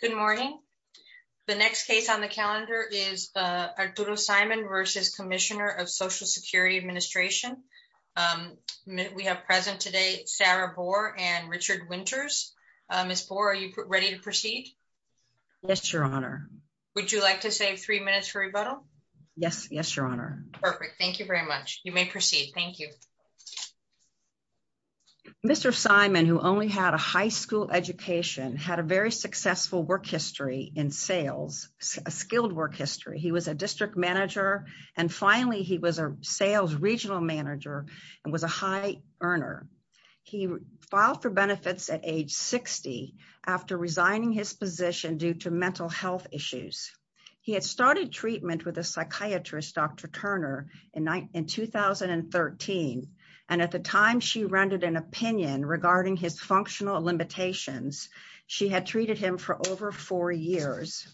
Good morning. The next case on the calendar is Arturo Simon v. Commissioner of Social Security Administration. We have present today Sarah Boer and Richard Winters. Ms. Boer, are you ready to proceed? Yes, Your Honor. Would you like to save three minutes for rebuttal? Yes. Yes, Your Honor. Perfect. Thank you very much. You may proceed. Thank you. Mr. Simon, who only had a high school education, had a very successful work history in sales, a skilled work history. He was a district manager and finally he was a sales regional manager and was a high earner. He filed for benefits at age 60 after resigning his position due to mental and at the time she rendered an opinion regarding his functional limitations. She had treated him for over four years.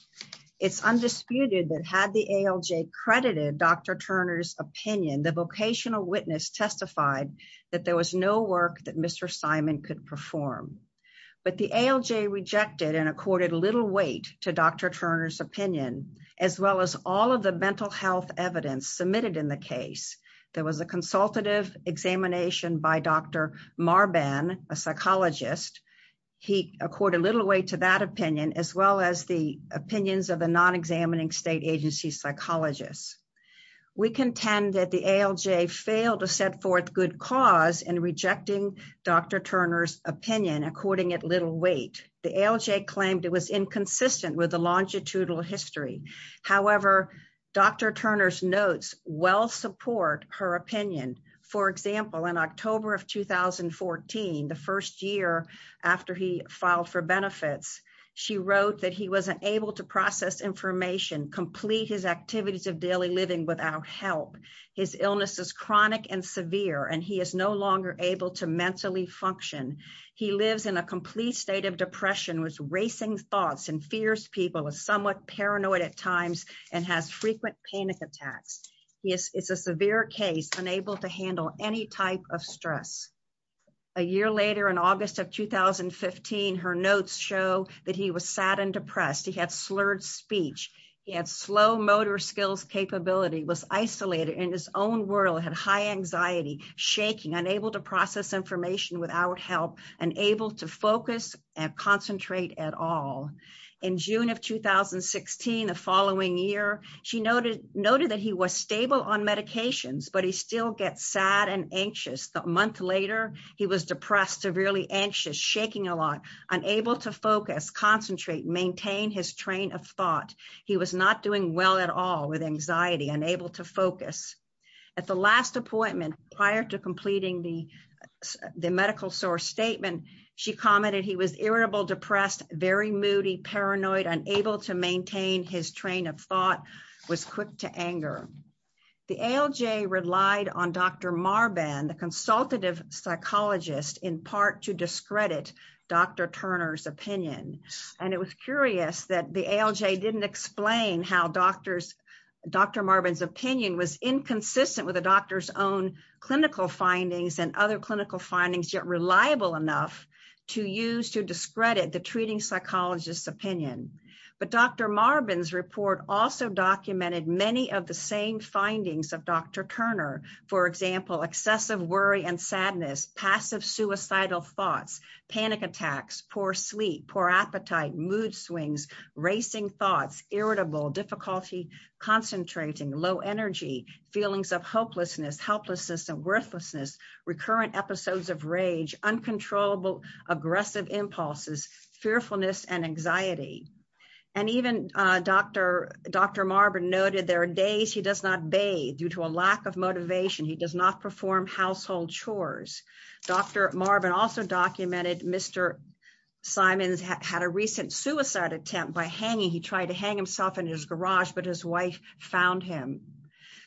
It's undisputed that had the ALJ credited Dr. Turner's opinion, the vocational witness testified that there was no work that Mr. Simon could perform. But the ALJ rejected and accorded little weight to Dr. Turner's opinion as well as all of the examination by Dr. Marban, a psychologist. He accorded little weight to that opinion as well as the opinions of the non-examining state agency psychologists. We contend that the ALJ failed to set forth good cause in rejecting Dr. Turner's opinion according at little weight. The ALJ claimed it was inconsistent with the longitudinal history. However, Dr. Turner's notes well support her opinion. For example, in October of 2014, the first year after he filed for benefits, she wrote that he wasn't able to process information, complete his activities of daily living without help. His illness is chronic and severe and he is no longer able to mentally function. He lives in a complete state of depression, was racing thoughts and fears people, was somewhat paranoid at times and has frequent panic attacks. He is a severe case, unable to handle any type of stress. A year later in August of 2015, her notes show that he was sad and depressed. He had slurred speech. He had slow motor skills capability, was isolated in his own world, had high anxiety, shaking, unable to process information without help, unable to focus and the following year, she noted that he was stable on medications, but he still gets sad and anxious. A month later, he was depressed, severely anxious, shaking a lot, unable to focus, concentrate, maintain his train of thought. He was not doing well at all with anxiety, unable to focus. At the last appointment prior to completing the medical source statement, she commented he was irritable, depressed, very moody, paranoid, unable to maintain his train of thought, was quick to anger. The ALJ relied on Dr. Marban, the consultative psychologist, in part to discredit Dr. Turner's opinion. And it was curious that the ALJ didn't explain how Dr. Marban's opinion was inconsistent with the doctor's own clinical findings and other clinical findings, yet reliable enough to use to discredit the treating psychologist's opinion. But Dr. Marban's report also documented many of the same findings of Dr. Turner. For example, excessive worry and sadness, passive suicidal thoughts, panic attacks, poor sleep, poor appetite, mood swings, racing thoughts, irritable, difficulty concentrating, low energy, feelings of hopelessness, helplessness and worthlessness, recurrent episodes of rage, uncontrollable aggressive impulses, fearfulness and anxiety. And even Dr. Marban noted there are days he does not bathe due to a lack of motivation. He does not perform household chores. Dr. Marban also documented Mr. Simons had a recent suicide attempt by hanging. He tried to hang himself in his garage, but his wife found him.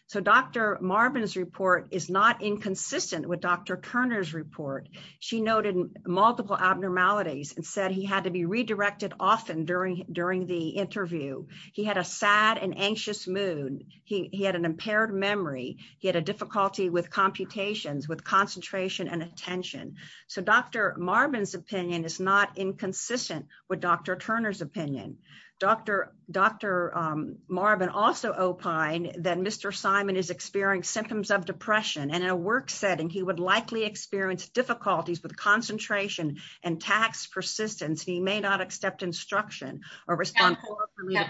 So Dr. Marban's opinion is not inconsistent with Dr. Turner's report. She noted multiple abnormalities and said he had to be redirected often during the interview. He had a sad and anxious mood. He had an impaired memory. He had a difficulty with computations, with concentration and attention. So Dr. Marban's opinion is not inconsistent with Dr. Turner's opinion. Dr. Marban also opined that Mr. Simon is experiencing symptoms of depression and in a work setting he would likely experience difficulties with concentration and tax persistence. He may not accept instruction. May I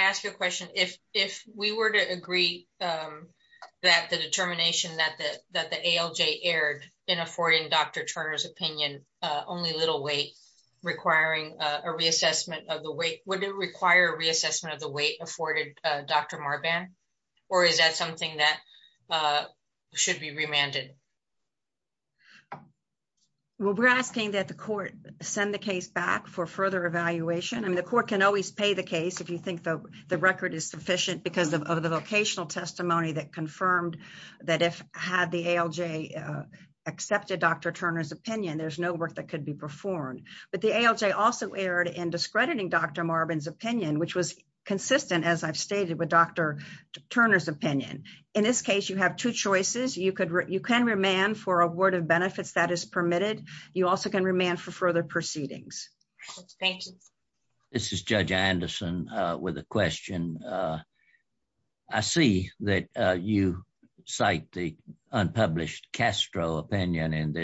ask you a question? If we were to agree that the determination that the ALJ erred in affording Dr. Turner's opinion only little weight requiring a reassessment of the weight, would it require reassessment of the weight afforded Dr. Marban or is that something that should be remanded? Well, we're asking that the court send the case back for further evaluation. I mean, the court can always pay the case if you think the record is sufficient because of the vocational testimony that confirmed that if had the ALJ accepted Dr. Turner's opinion, there's no work that could be performed. But the ALJ also erred in discrediting Dr. Marban's opinion, which was consistent, as I've stated, with Dr. Turner's opinion. In this case, you have two choices. You can remand for a word of benefits that is permitted. You also can remand for further proceedings. Thank you. This is Judge Anderson with a question. I see that you cite the unpublished Castro opinion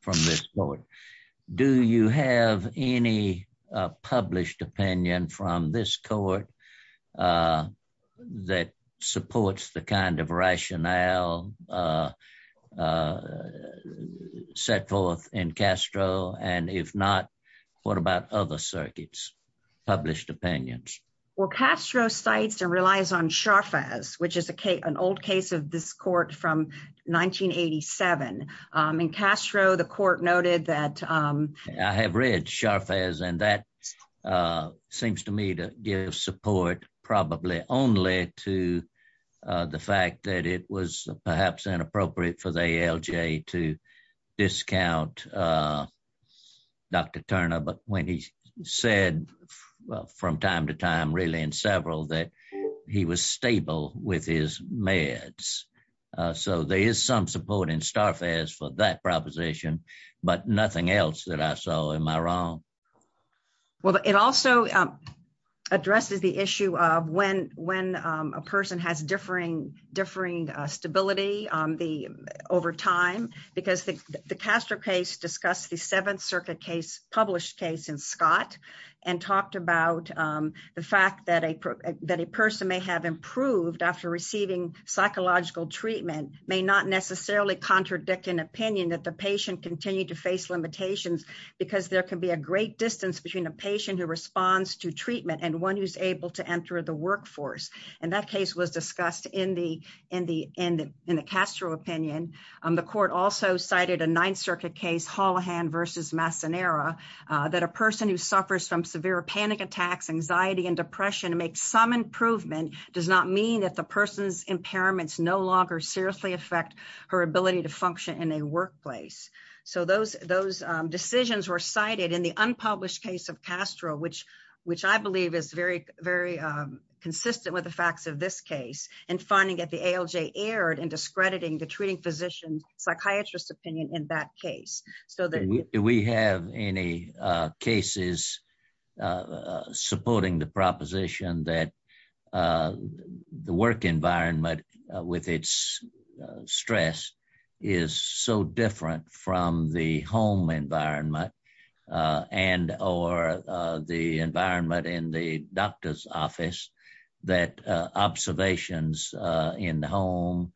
from this court. Do you have any published opinion from this court that supports the kind of rationale set forth in Castro? And if not, what about other circuits, published opinions? Well, Castro cites and relies on Sharfaz, which is an old case of this court from 1987. In Castro, the court noted that I have read Sharfaz, and that seems to me to give support probably only to the fact that it was perhaps inappropriate for the ALJ to discount Dr. Turner. But when he said from time to time, really in several, that he was stable with his so there is some support in Starfaz for that proposition, but nothing else that I saw. Am I wrong? Well, it also addresses the issue of when a person has differing stability over time, because the Castro case discussed the Seventh Circuit case, published case in Scott, and talked about the fact that a person may have improved after receiving psychological treatment may not necessarily contradict an opinion that the patient continue to face limitations, because there can be a great distance between a patient who responds to treatment and one who's able to enter the workforce. And that case was discussed in the Castro opinion. The court also cited a Ninth anxiety and depression to make some improvement does not mean that the person's impairments no longer seriously affect her ability to function in a workplace. So those those decisions were cited in the unpublished case of Castro, which, which I believe is very, very consistent with the facts of this case, and finding that the ALJ aired and discrediting the treating physician, psychiatrist opinion in that case, so that we have any cases supporting the proposition that the work environment with its stress is so different from the home environment, and or the environment in the doctor's office, that observations in the home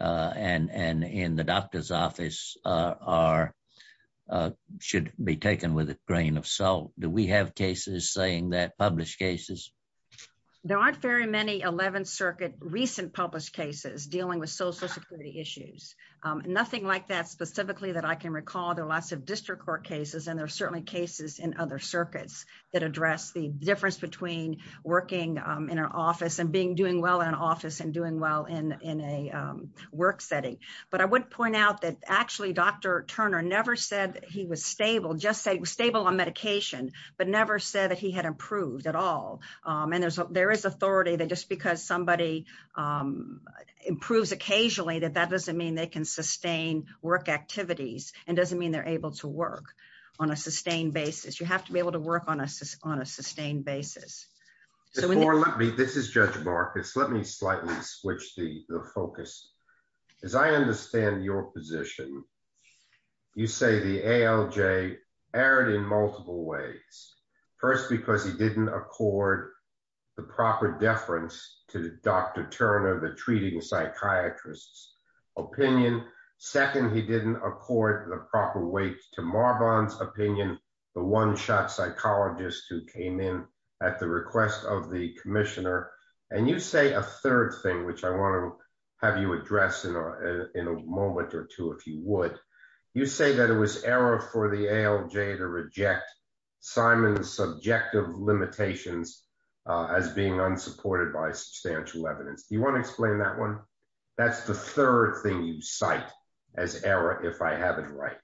and and in the doctor's office are should be taken with a grain of salt. Do we have cases saying that published cases? There aren't very many 11th Circuit recent published cases dealing with social security issues. Nothing like that, specifically that I can recall, there are lots of district court cases. And there are certainly cases in other circuits that address the difference between working in an office and being doing well in an office and doing well in in a work setting. But I would point out that actually, Dr. Turner never said he was stable, just say stable on medication, but never said that he had improved at all. And there's there is authority that just somebody improves occasionally, that that doesn't mean they can sustain work activities, and doesn't mean they're able to work on a sustained basis, you have to be able to work on us on a sustained basis. So let me this is Judge Marcus, let me slightly switch the focus. As I understand your position. You say the ALJ aired in multiple ways. First, because he didn't accord the proper deference to Dr. Turner, the treating psychiatrist's opinion. Second, he didn't accord the proper weight to Marbon's opinion, the one shot psychologist who came in at the request of the commissioner. And you say a third thing, which I want to have you address in a moment or two, if you would, you say that it was error for the ALJ to reject Simon's subjective limitations as being unsupported by substantial evidence. Do you want to explain that one? That's the third thing you cite as error, if I have it right?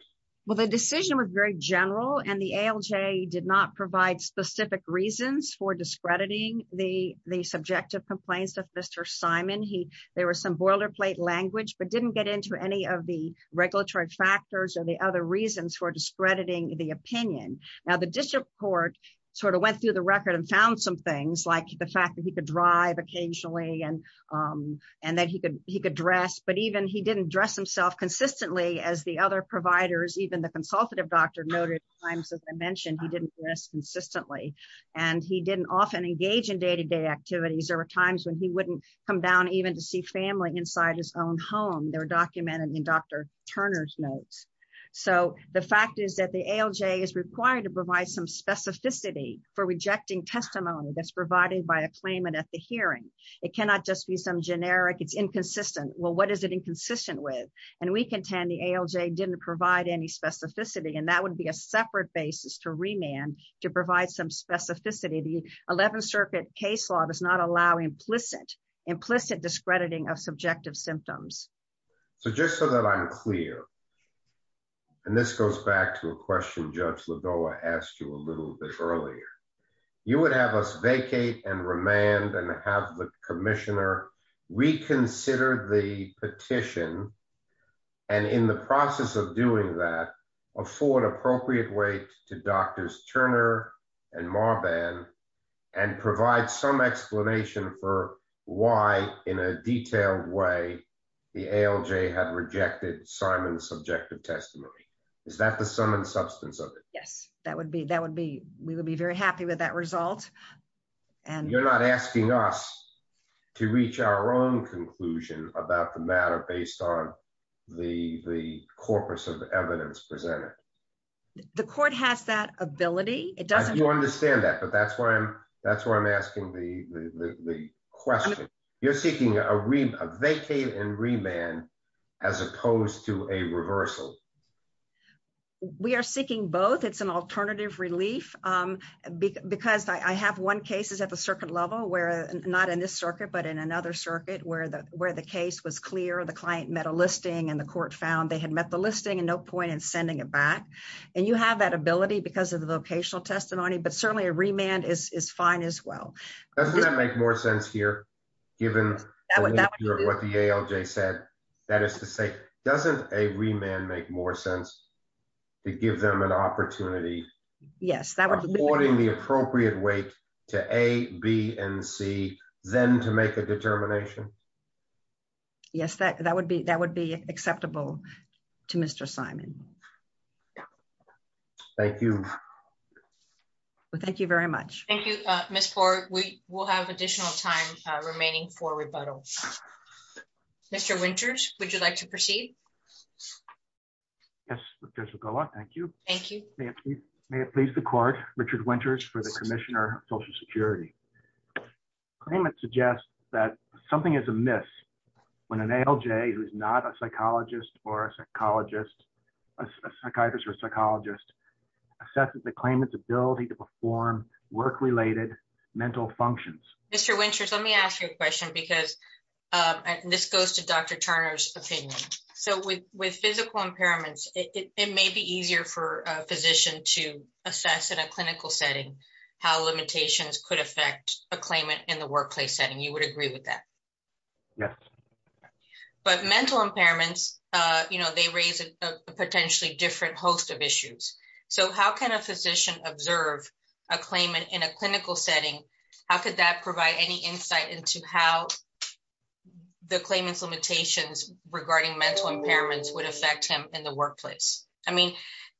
Well, the decision was very general, and the ALJ did not provide specific reasons for discrediting the the subjective complaints of Mr. Simon, he, there was some boilerplate language, but didn't get into any of the regulatory factors or the other reasons for discrediting the opinion. Now, the district court sort of went through the record and found some things like the fact that he could drive occasionally and, and that he could, he could dress, but even he didn't dress himself consistently as the other providers, even the consultative doctor noted times, as I mentioned, he didn't dress consistently. And he didn't often engage in day to day activities. There were times when he wouldn't come down even to see family inside his own home. They're documented in Dr. Turner's notes. So the fact is that the ALJ is required to provide some specificity for rejecting testimony that's provided by a claimant at the hearing. It cannot just be some generic, it's inconsistent. Well, what is it inconsistent with? And we contend the ALJ didn't provide any specificity. And that would be a separate basis to remand to provide some specificity. The 11th Circuit case law does not allow implicit, implicit discrediting of subjective symptoms. So just so that I'm clear, and this goes back to a question Judge Lidoa asked you a little bit earlier, you would have us vacate and remand and have the commissioner reconsider the petition. And in the process of doing that, afford appropriate weight to Drs. Turner and Marban and provide some explanation for why, in a detailed way, the ALJ had rejected Simon's subjective testimony. Is that the sum and substance of it? Yes, that would be that would be we would be very happy with that result. And you're not asking us to reach our own conclusion about the matter based on the the corpus of evidence presented. The court has that ability, it doesn't understand that. But that's why I'm that's why I'm asking the question. You're seeking a read a vacate and remand, as opposed to a reversal. We are seeking both. It's an alternative relief. Because I have one cases at the circuit level where not in this circuit, but in another circuit where the where the case was clear, the client met a listing and the court found they had met the listing and no point in sending it back. And you have that ability because of the vocational testimony, but certainly a remand is fine as well. Doesn't that make more sense here, given what the ALJ said, that is to say, doesn't a remand make more sense to give them an opportunity? Yes, that was holding the appropriate weight to A, B and C, then to make a determination. Yes, that that would be that would be acceptable to Mr. Simon. Thank you. Thank you very much. Thank you, Miss Ford. We will have additional time remaining for rebuttal. Mr. Winters, would you like to proceed? Yes. Thank you. Thank you. May it please the court Richard Winters for the Commissioner of Social Security. Claimant suggests that something is amiss when an ALJ who's not a psychologist or a psychologist, a psychiatrist or psychologist assesses the claimant's ability to perform work related mental functions. Mr. Winters, let me ask you a question because this goes to Dr. Turner's opinion. So with with physical impairments, it may be easier for a physician to assess in a clinical setting how limitations could affect a claimant in the you know, they raise a potentially different host of issues. So how can a physician observe a claimant in a clinical setting? How could that provide any insight into how the claimant's limitations regarding mental impairments would affect him in the workplace? I mean,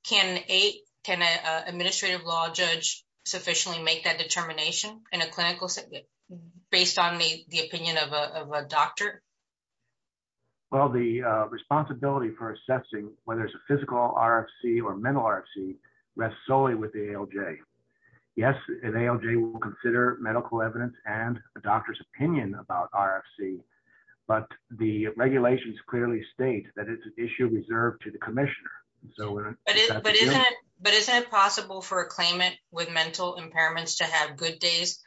can a can an administrative law judge sufficiently make that determination in a assessing whether it's a physical RFC or mental RFC rests solely with the ALJ? Yes, an ALJ will consider medical evidence and a doctor's opinion about RFC, but the regulations clearly state that it's an issue reserved to the Commissioner. But isn't it possible for a claimant with mental impairments to have good days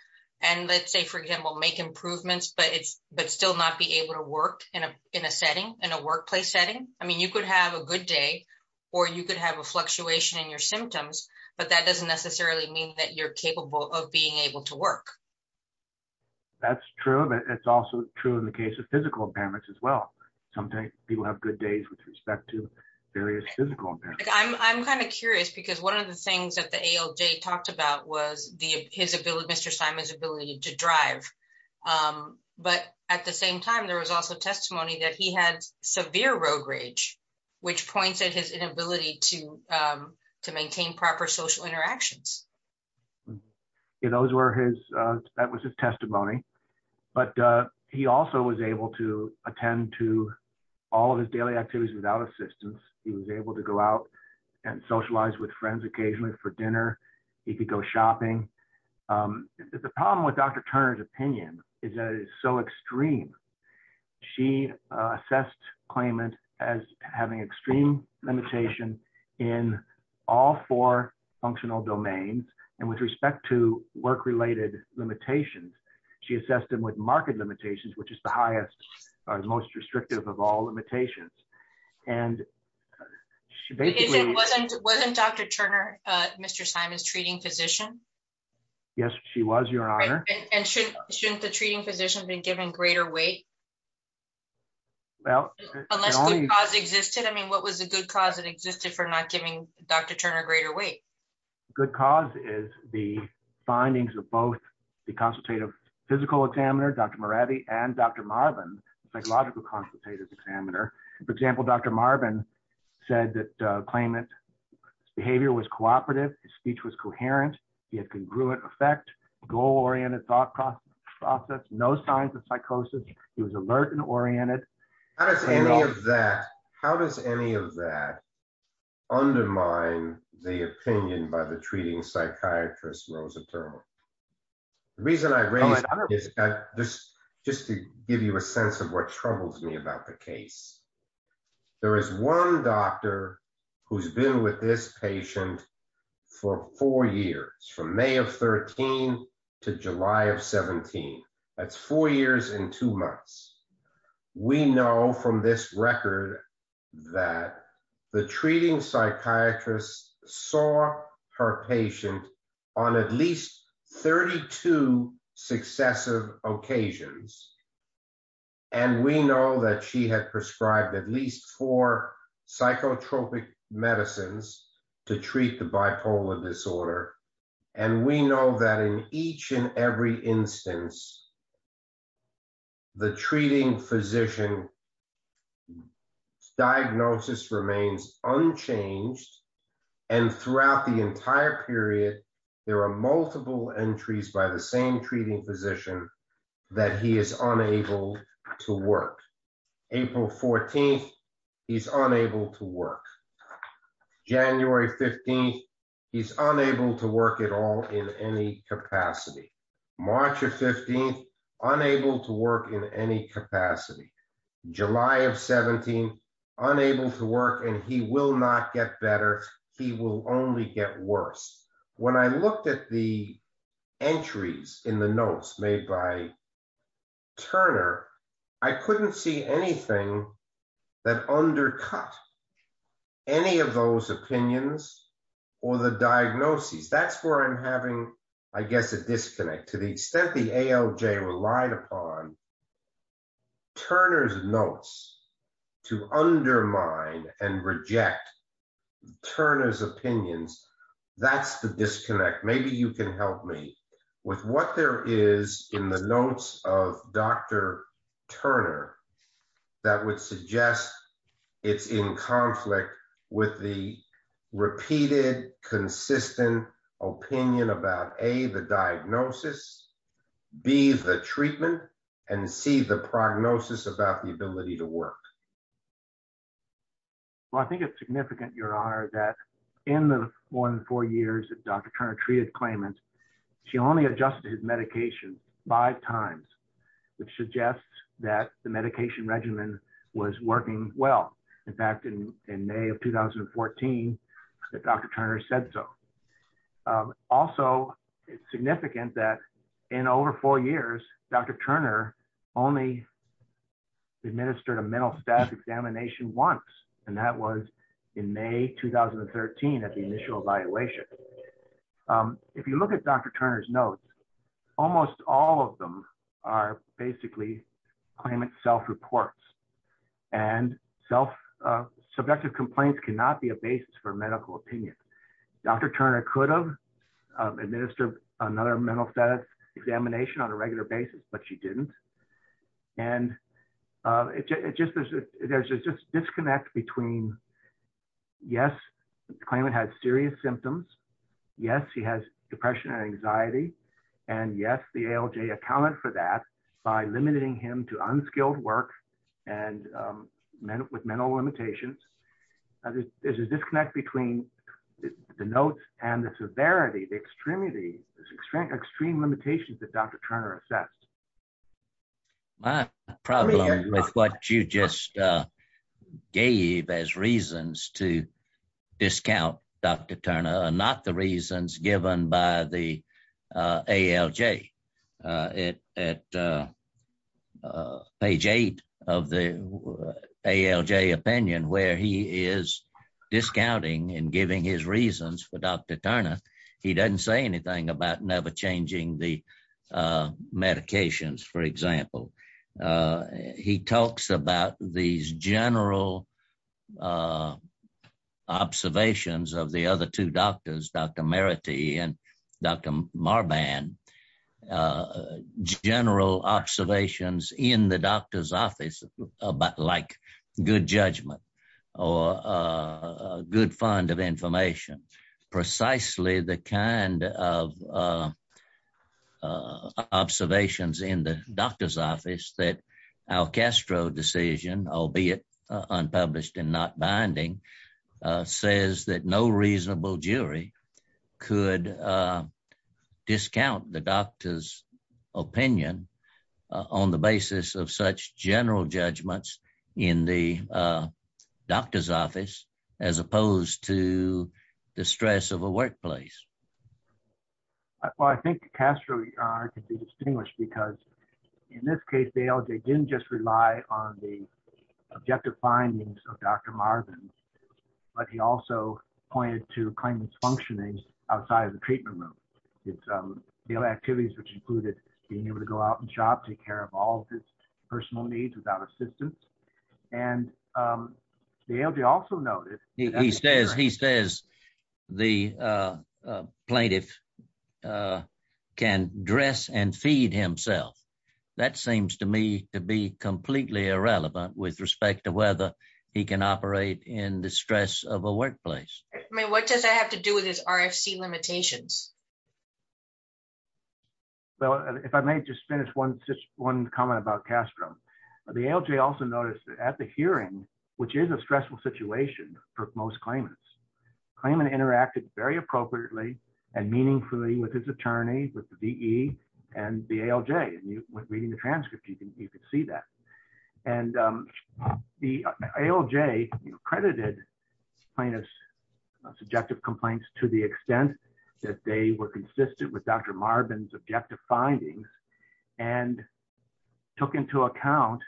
and let's say, for example, make improvements but still not be able to work in a in a setting in a workplace setting? I mean, you could have a good day or you could have a fluctuation in your symptoms, but that doesn't necessarily mean that you're capable of being able to work. That's true, but it's also true in the case of physical impairments as well. Sometimes people have good days with respect to various physical impairments. I'm kind of curious because one of the things that the ALJ talked about was his ability, Mr. Simon's ability to drive. But at the same time, there was also testimony that he had severe road rage, which points at his inability to maintain proper social interactions. Those were his, that was his testimony, but he also was able to attend to all of his daily activities without assistance. He was able to go out and socialize with friends occasionally for shopping. The problem with Dr. Turner's opinion is that it's so extreme. She assessed claimant as having extreme limitation in all four functional domains and with respect to work-related limitations. She assessed him with market limitations, which is the highest or most Yes, she was, Your Honor. And shouldn't the treating physician have been given greater weight? Well, unless good cause existed. I mean, what was the good cause that existed for not giving Dr. Turner greater weight? Good cause is the findings of both the consultative physical examiner, Dr. Moravi, and Dr. Marvin, psychological consultative examiner. For example, Dr. Marvin said that claimant's behavior was cooperative. His speech was coherent. He had congruent effect, goal-oriented thought process, no signs of psychosis. He was alert and oriented. How does any of that undermine the opinion by the treating psychiatrist, Rosa Turner? The reason I raise it is just to give you a sense of what troubles me about the case. There is one doctor who's been with this patient for four years, from May of 13 to July of 17. That's four years and two months. We know from this record that the treating psychiatrist saw her patient on at least 32 successive occasions. And we know that she had prescribed at least four psychotropic medicines to treat the bipolar disorder. And we know that in each and every instance, the treating physician's diagnosis remains unchanged. And throughout the entire period, there are multiple entries by the same treating physician that he is unable to work. April 14, he's unable to work. January 15, he's unable to work at all in any capacity. March of 15, unable to work in any capacity. July of 17, unable to work and he will not get better. He will only get worse. When I looked at the entries in the notes made by Turner, I couldn't see anything that undercut any of those opinions or the diagnoses. That's where I'm having, I guess, a disconnect to the extent the ALJ relied upon Turner's notes to undermine and reject Turner's opinions. That's the disconnect. Maybe you can help me with what there is in the notes of Dr. Turner that would suggest it's in conflict with the repeated consistent opinion about A, the diagnosis, B, the treatment, and C, the prognosis about the ability to work. Well, I think it's significant, Your Honor, that in the more than four years that Dr. Turner treated claimants, she only adjusted his medication five times, which suggests that the medication regimen was working well. In fact, in May of 2014, Dr. Turner said so. Also, it's significant that in over four years, Dr. Turner only administered a mental status examination once. That was in May 2013 at the initial evaluation. If you look at Dr. Turner's notes, almost all of them are basically claimant self-reports. Subjective complaints cannot be a basis for medical opinion. Dr. Turner could have administered another mental status examination on a regular basis, but she didn't. There's a disconnect between, yes, the claimant had serious symptoms, yes, he has depression and anxiety, and yes, the ALJ accounted for that by limiting him to unskilled work with mental limitations. There's a disconnect between the notes and the severity, the extremity, extreme limitations that Dr. Turner assessed. My problem with what you just gave as reasons to discount Dr. Turner are not the reasons given by the ALJ. At page eight of the ALJ opinion, where he is discounting and giving his reasons for Dr. Turner, he doesn't say anything about never changing the medications, for example. He talks about these general observations of the other two doctors, Dr. Merity and Dr. Marban, general observations in the doctor's office, like good judgment or a good fund of information, precisely the kind of observations in the doctor's office that our Castro decision, albeit unpublished and not binding, says that no reasonable jury could discount the doctor's opinion on the basis of such general judgments in the doctor's office as opposed to the stress of a workplace. Well, I think Castro could be distinguished because in this case, the ALJ didn't just rely on the objective findings of Dr. Marban, but he also pointed to claimant's functionings outside of the treatment room. The other activities which included being able to go out and shop, take care of all his personal needs without assistance. And the ALJ also noted, he says the plaintiff can dress and feed himself. That seems to me to be completely irrelevant with respect to whether he can operate in the stress of a workplace. I mean, what does that have to do with the plaintiff's function? I mean, there's one comment about Castro. The ALJ also noticed that at the hearing, which is a stressful situation for most claimants, claimant interacted very appropriately and meaningfully with his attorney, with the VE and the ALJ. And reading the transcript, you can see that. And the ALJ credited plaintiff's subjective complaints to the extent that they were and took into account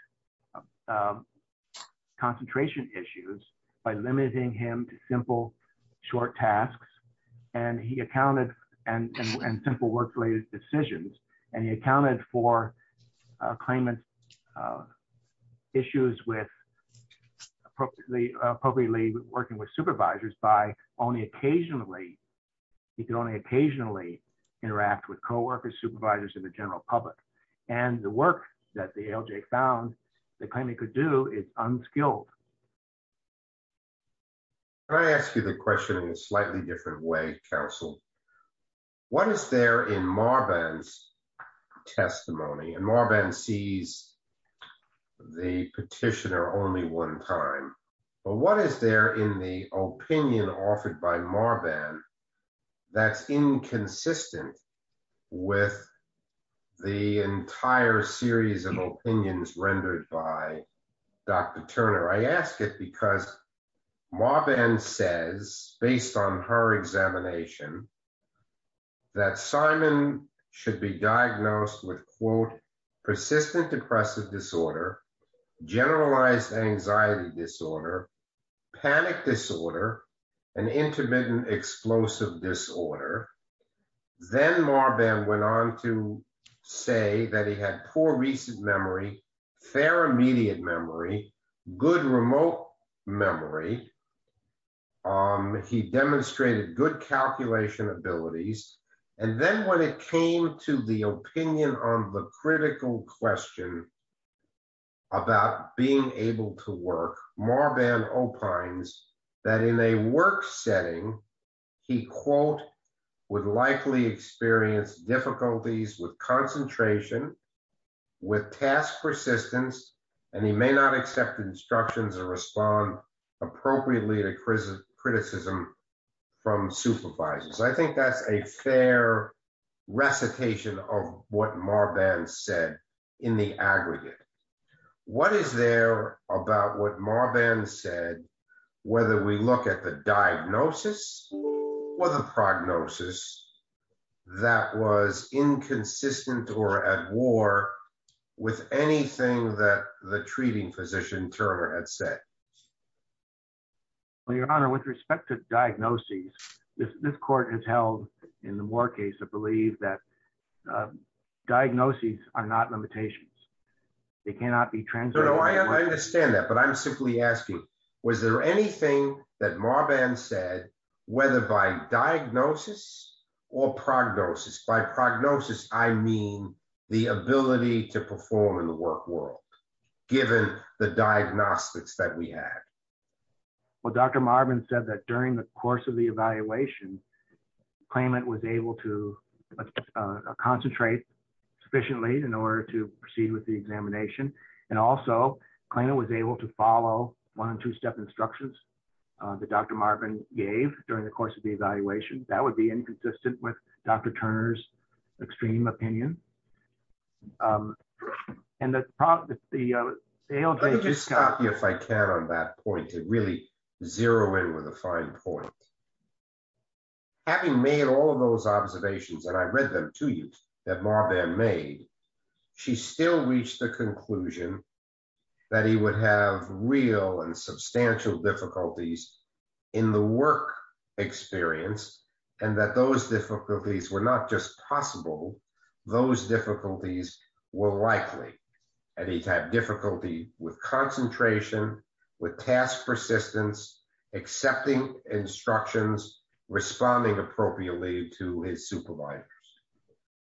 concentration issues by limiting him to simple, short tasks. And he accounted and simple work-related decisions. And he accounted for claimant's issues with appropriately working with supervisors by only occasionally, he could only occasionally interact with coworkers, supervisors, and the general public. And the work that the ALJ found the claimant could do is unskilled. Can I ask you the question in a slightly different way, counsel? What is there in Marban's testimony? And Marban sees the petitioner only one time. But what is there in the opinion offered by Marban that's inconsistent with the entire series of opinions rendered by Dr. Turner? I ask it because Marban says, based on her examination, that Simon should be diagnosed with persistent depressive disorder, generalized anxiety disorder, panic disorder, and intermittent explosive disorder. Then Marban went on to say that he had poor recent memory, fair immediate memory, good remote memory. He demonstrated good calculation abilities. And then when it came to the opinion on the critical question about being able to work, Marban opines that in a work setting, he, quote, would likely experience difficulties with concentration, with task persistence, and he may not accept instructions or respond appropriately to criticism from supervisors. I think that's a fair recitation of what Marban said in the aggregate. What is there about what Marban said, whether we look at the diagnosis or the prognosis that was inconsistent or at war with anything that the treating physician Turner had said? Well, your honor, with respect to diagnoses, this court has held in the war case to believe that diagnoses are not limitations. They cannot be translated. I understand that, but I'm simply asking, was there anything that Marban said, whether by diagnosis or prognosis? By prognosis, I mean the ability to perform in the work world, given the diagnostics that we had. Well, Dr. Marban said that during the course of the evaluation, claimant was able to concentrate sufficiently in order to proceed with the examination. And also, claimant was able to follow one and two step instructions that Dr. Marban gave during the evaluation. That would be inconsistent with Dr. Turner's extreme opinion. And that's probably the- I'll just stop you if I can on that point to really zero in with a fine point. Having made all of those observations, and I read them to you that Marban made, she still reached the conclusion that he would have real and substantial difficulties in the work experience, and that those difficulties were not just possible, those difficulties were likely. And he had difficulty with concentration, with task persistence, accepting instructions, responding appropriately to his supervisors.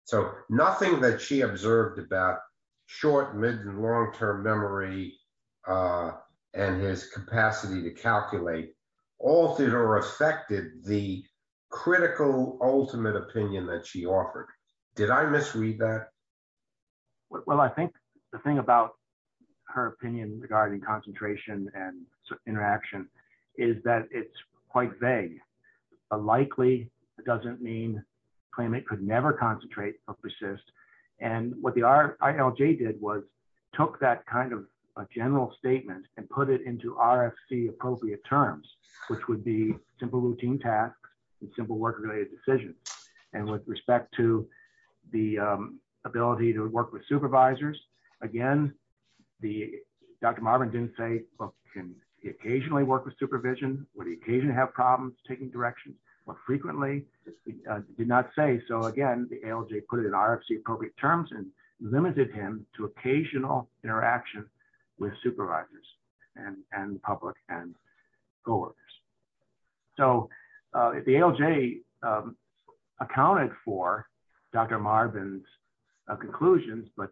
So nothing that she observed about short, mid, and long-term memory, and his capacity to calculate, altered or affected the critical, ultimate opinion that she offered. Did I misread that? Well, I think the thing about her opinion regarding concentration and interaction is that it's quite vague. A likely doesn't mean claimant could never concentrate or persist. And what the general statement and put it into RFC appropriate terms, which would be simple routine tasks and simple work-related decisions. And with respect to the ability to work with supervisors, again, the- Dr. Marban didn't say, well, can he occasionally work with supervision? Would he occasionally have problems taking directions more frequently? Did not say. So again, the ALJ put it in RFC appropriate terms and limited him to occasional interaction with supervisors and public and coworkers. So the ALJ accounted for Dr. Marban's conclusions, but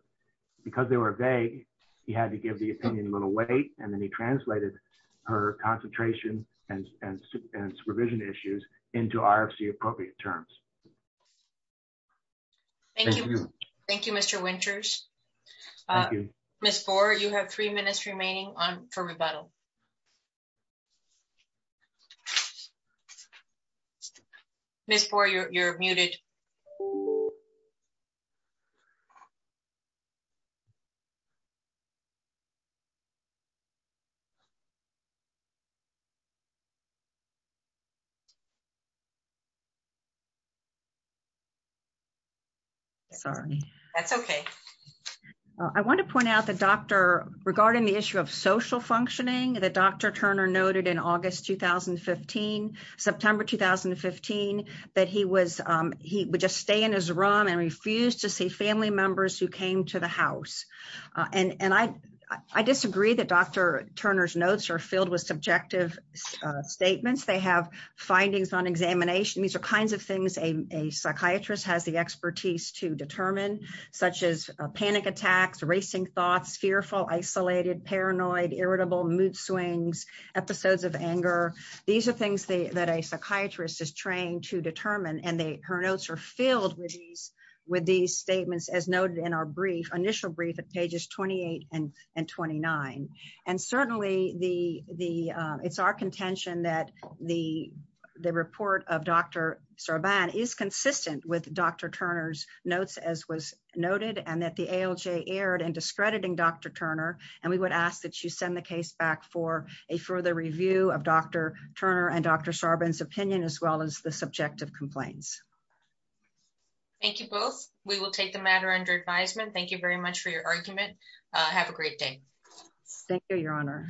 because they were vague, he had to give the opinion a little weight, and then he translated her concentration and supervision issues into RFC appropriate terms. Thank you. Thank you, Mr. Winters. Ms. Foer, you have three minutes remaining for rebuttal. Ms. Foer, you're muted. Sorry. That's okay. I want to point out the doctor regarding the issue of social functioning that Dr. Turner noted in August, 2015, September, 2015, that he was- he would just stay in his room and refuse to see family members who came to the house. And I disagree that Dr. Turner's notes are filled with subjective statements. They have findings on examination. These are kinds of things a psychiatrist has the expertise to determine, such as panic attacks, racing thoughts, fearful, isolated, paranoid, irritable, mood swings, episodes of anger. These are things that a psychiatrist is trained to determine, and her notes are filled with these statements, as noted in our brief, initial brief at pages 28 and 29. And certainly, it's our contention that the report of Dr. Sarban is consistent with Dr. Turner's notes, as was noted, and that the ALJ erred in discrediting Dr. Turner. And we would ask that you send the case back for a further review of Dr. Turner and Dr. Sarban's opinion, as well as the subjective complaints. Thank you both. We will take the matter under advisement. Thank you very much for your argument. Have a great day. Thank you, Your Honor.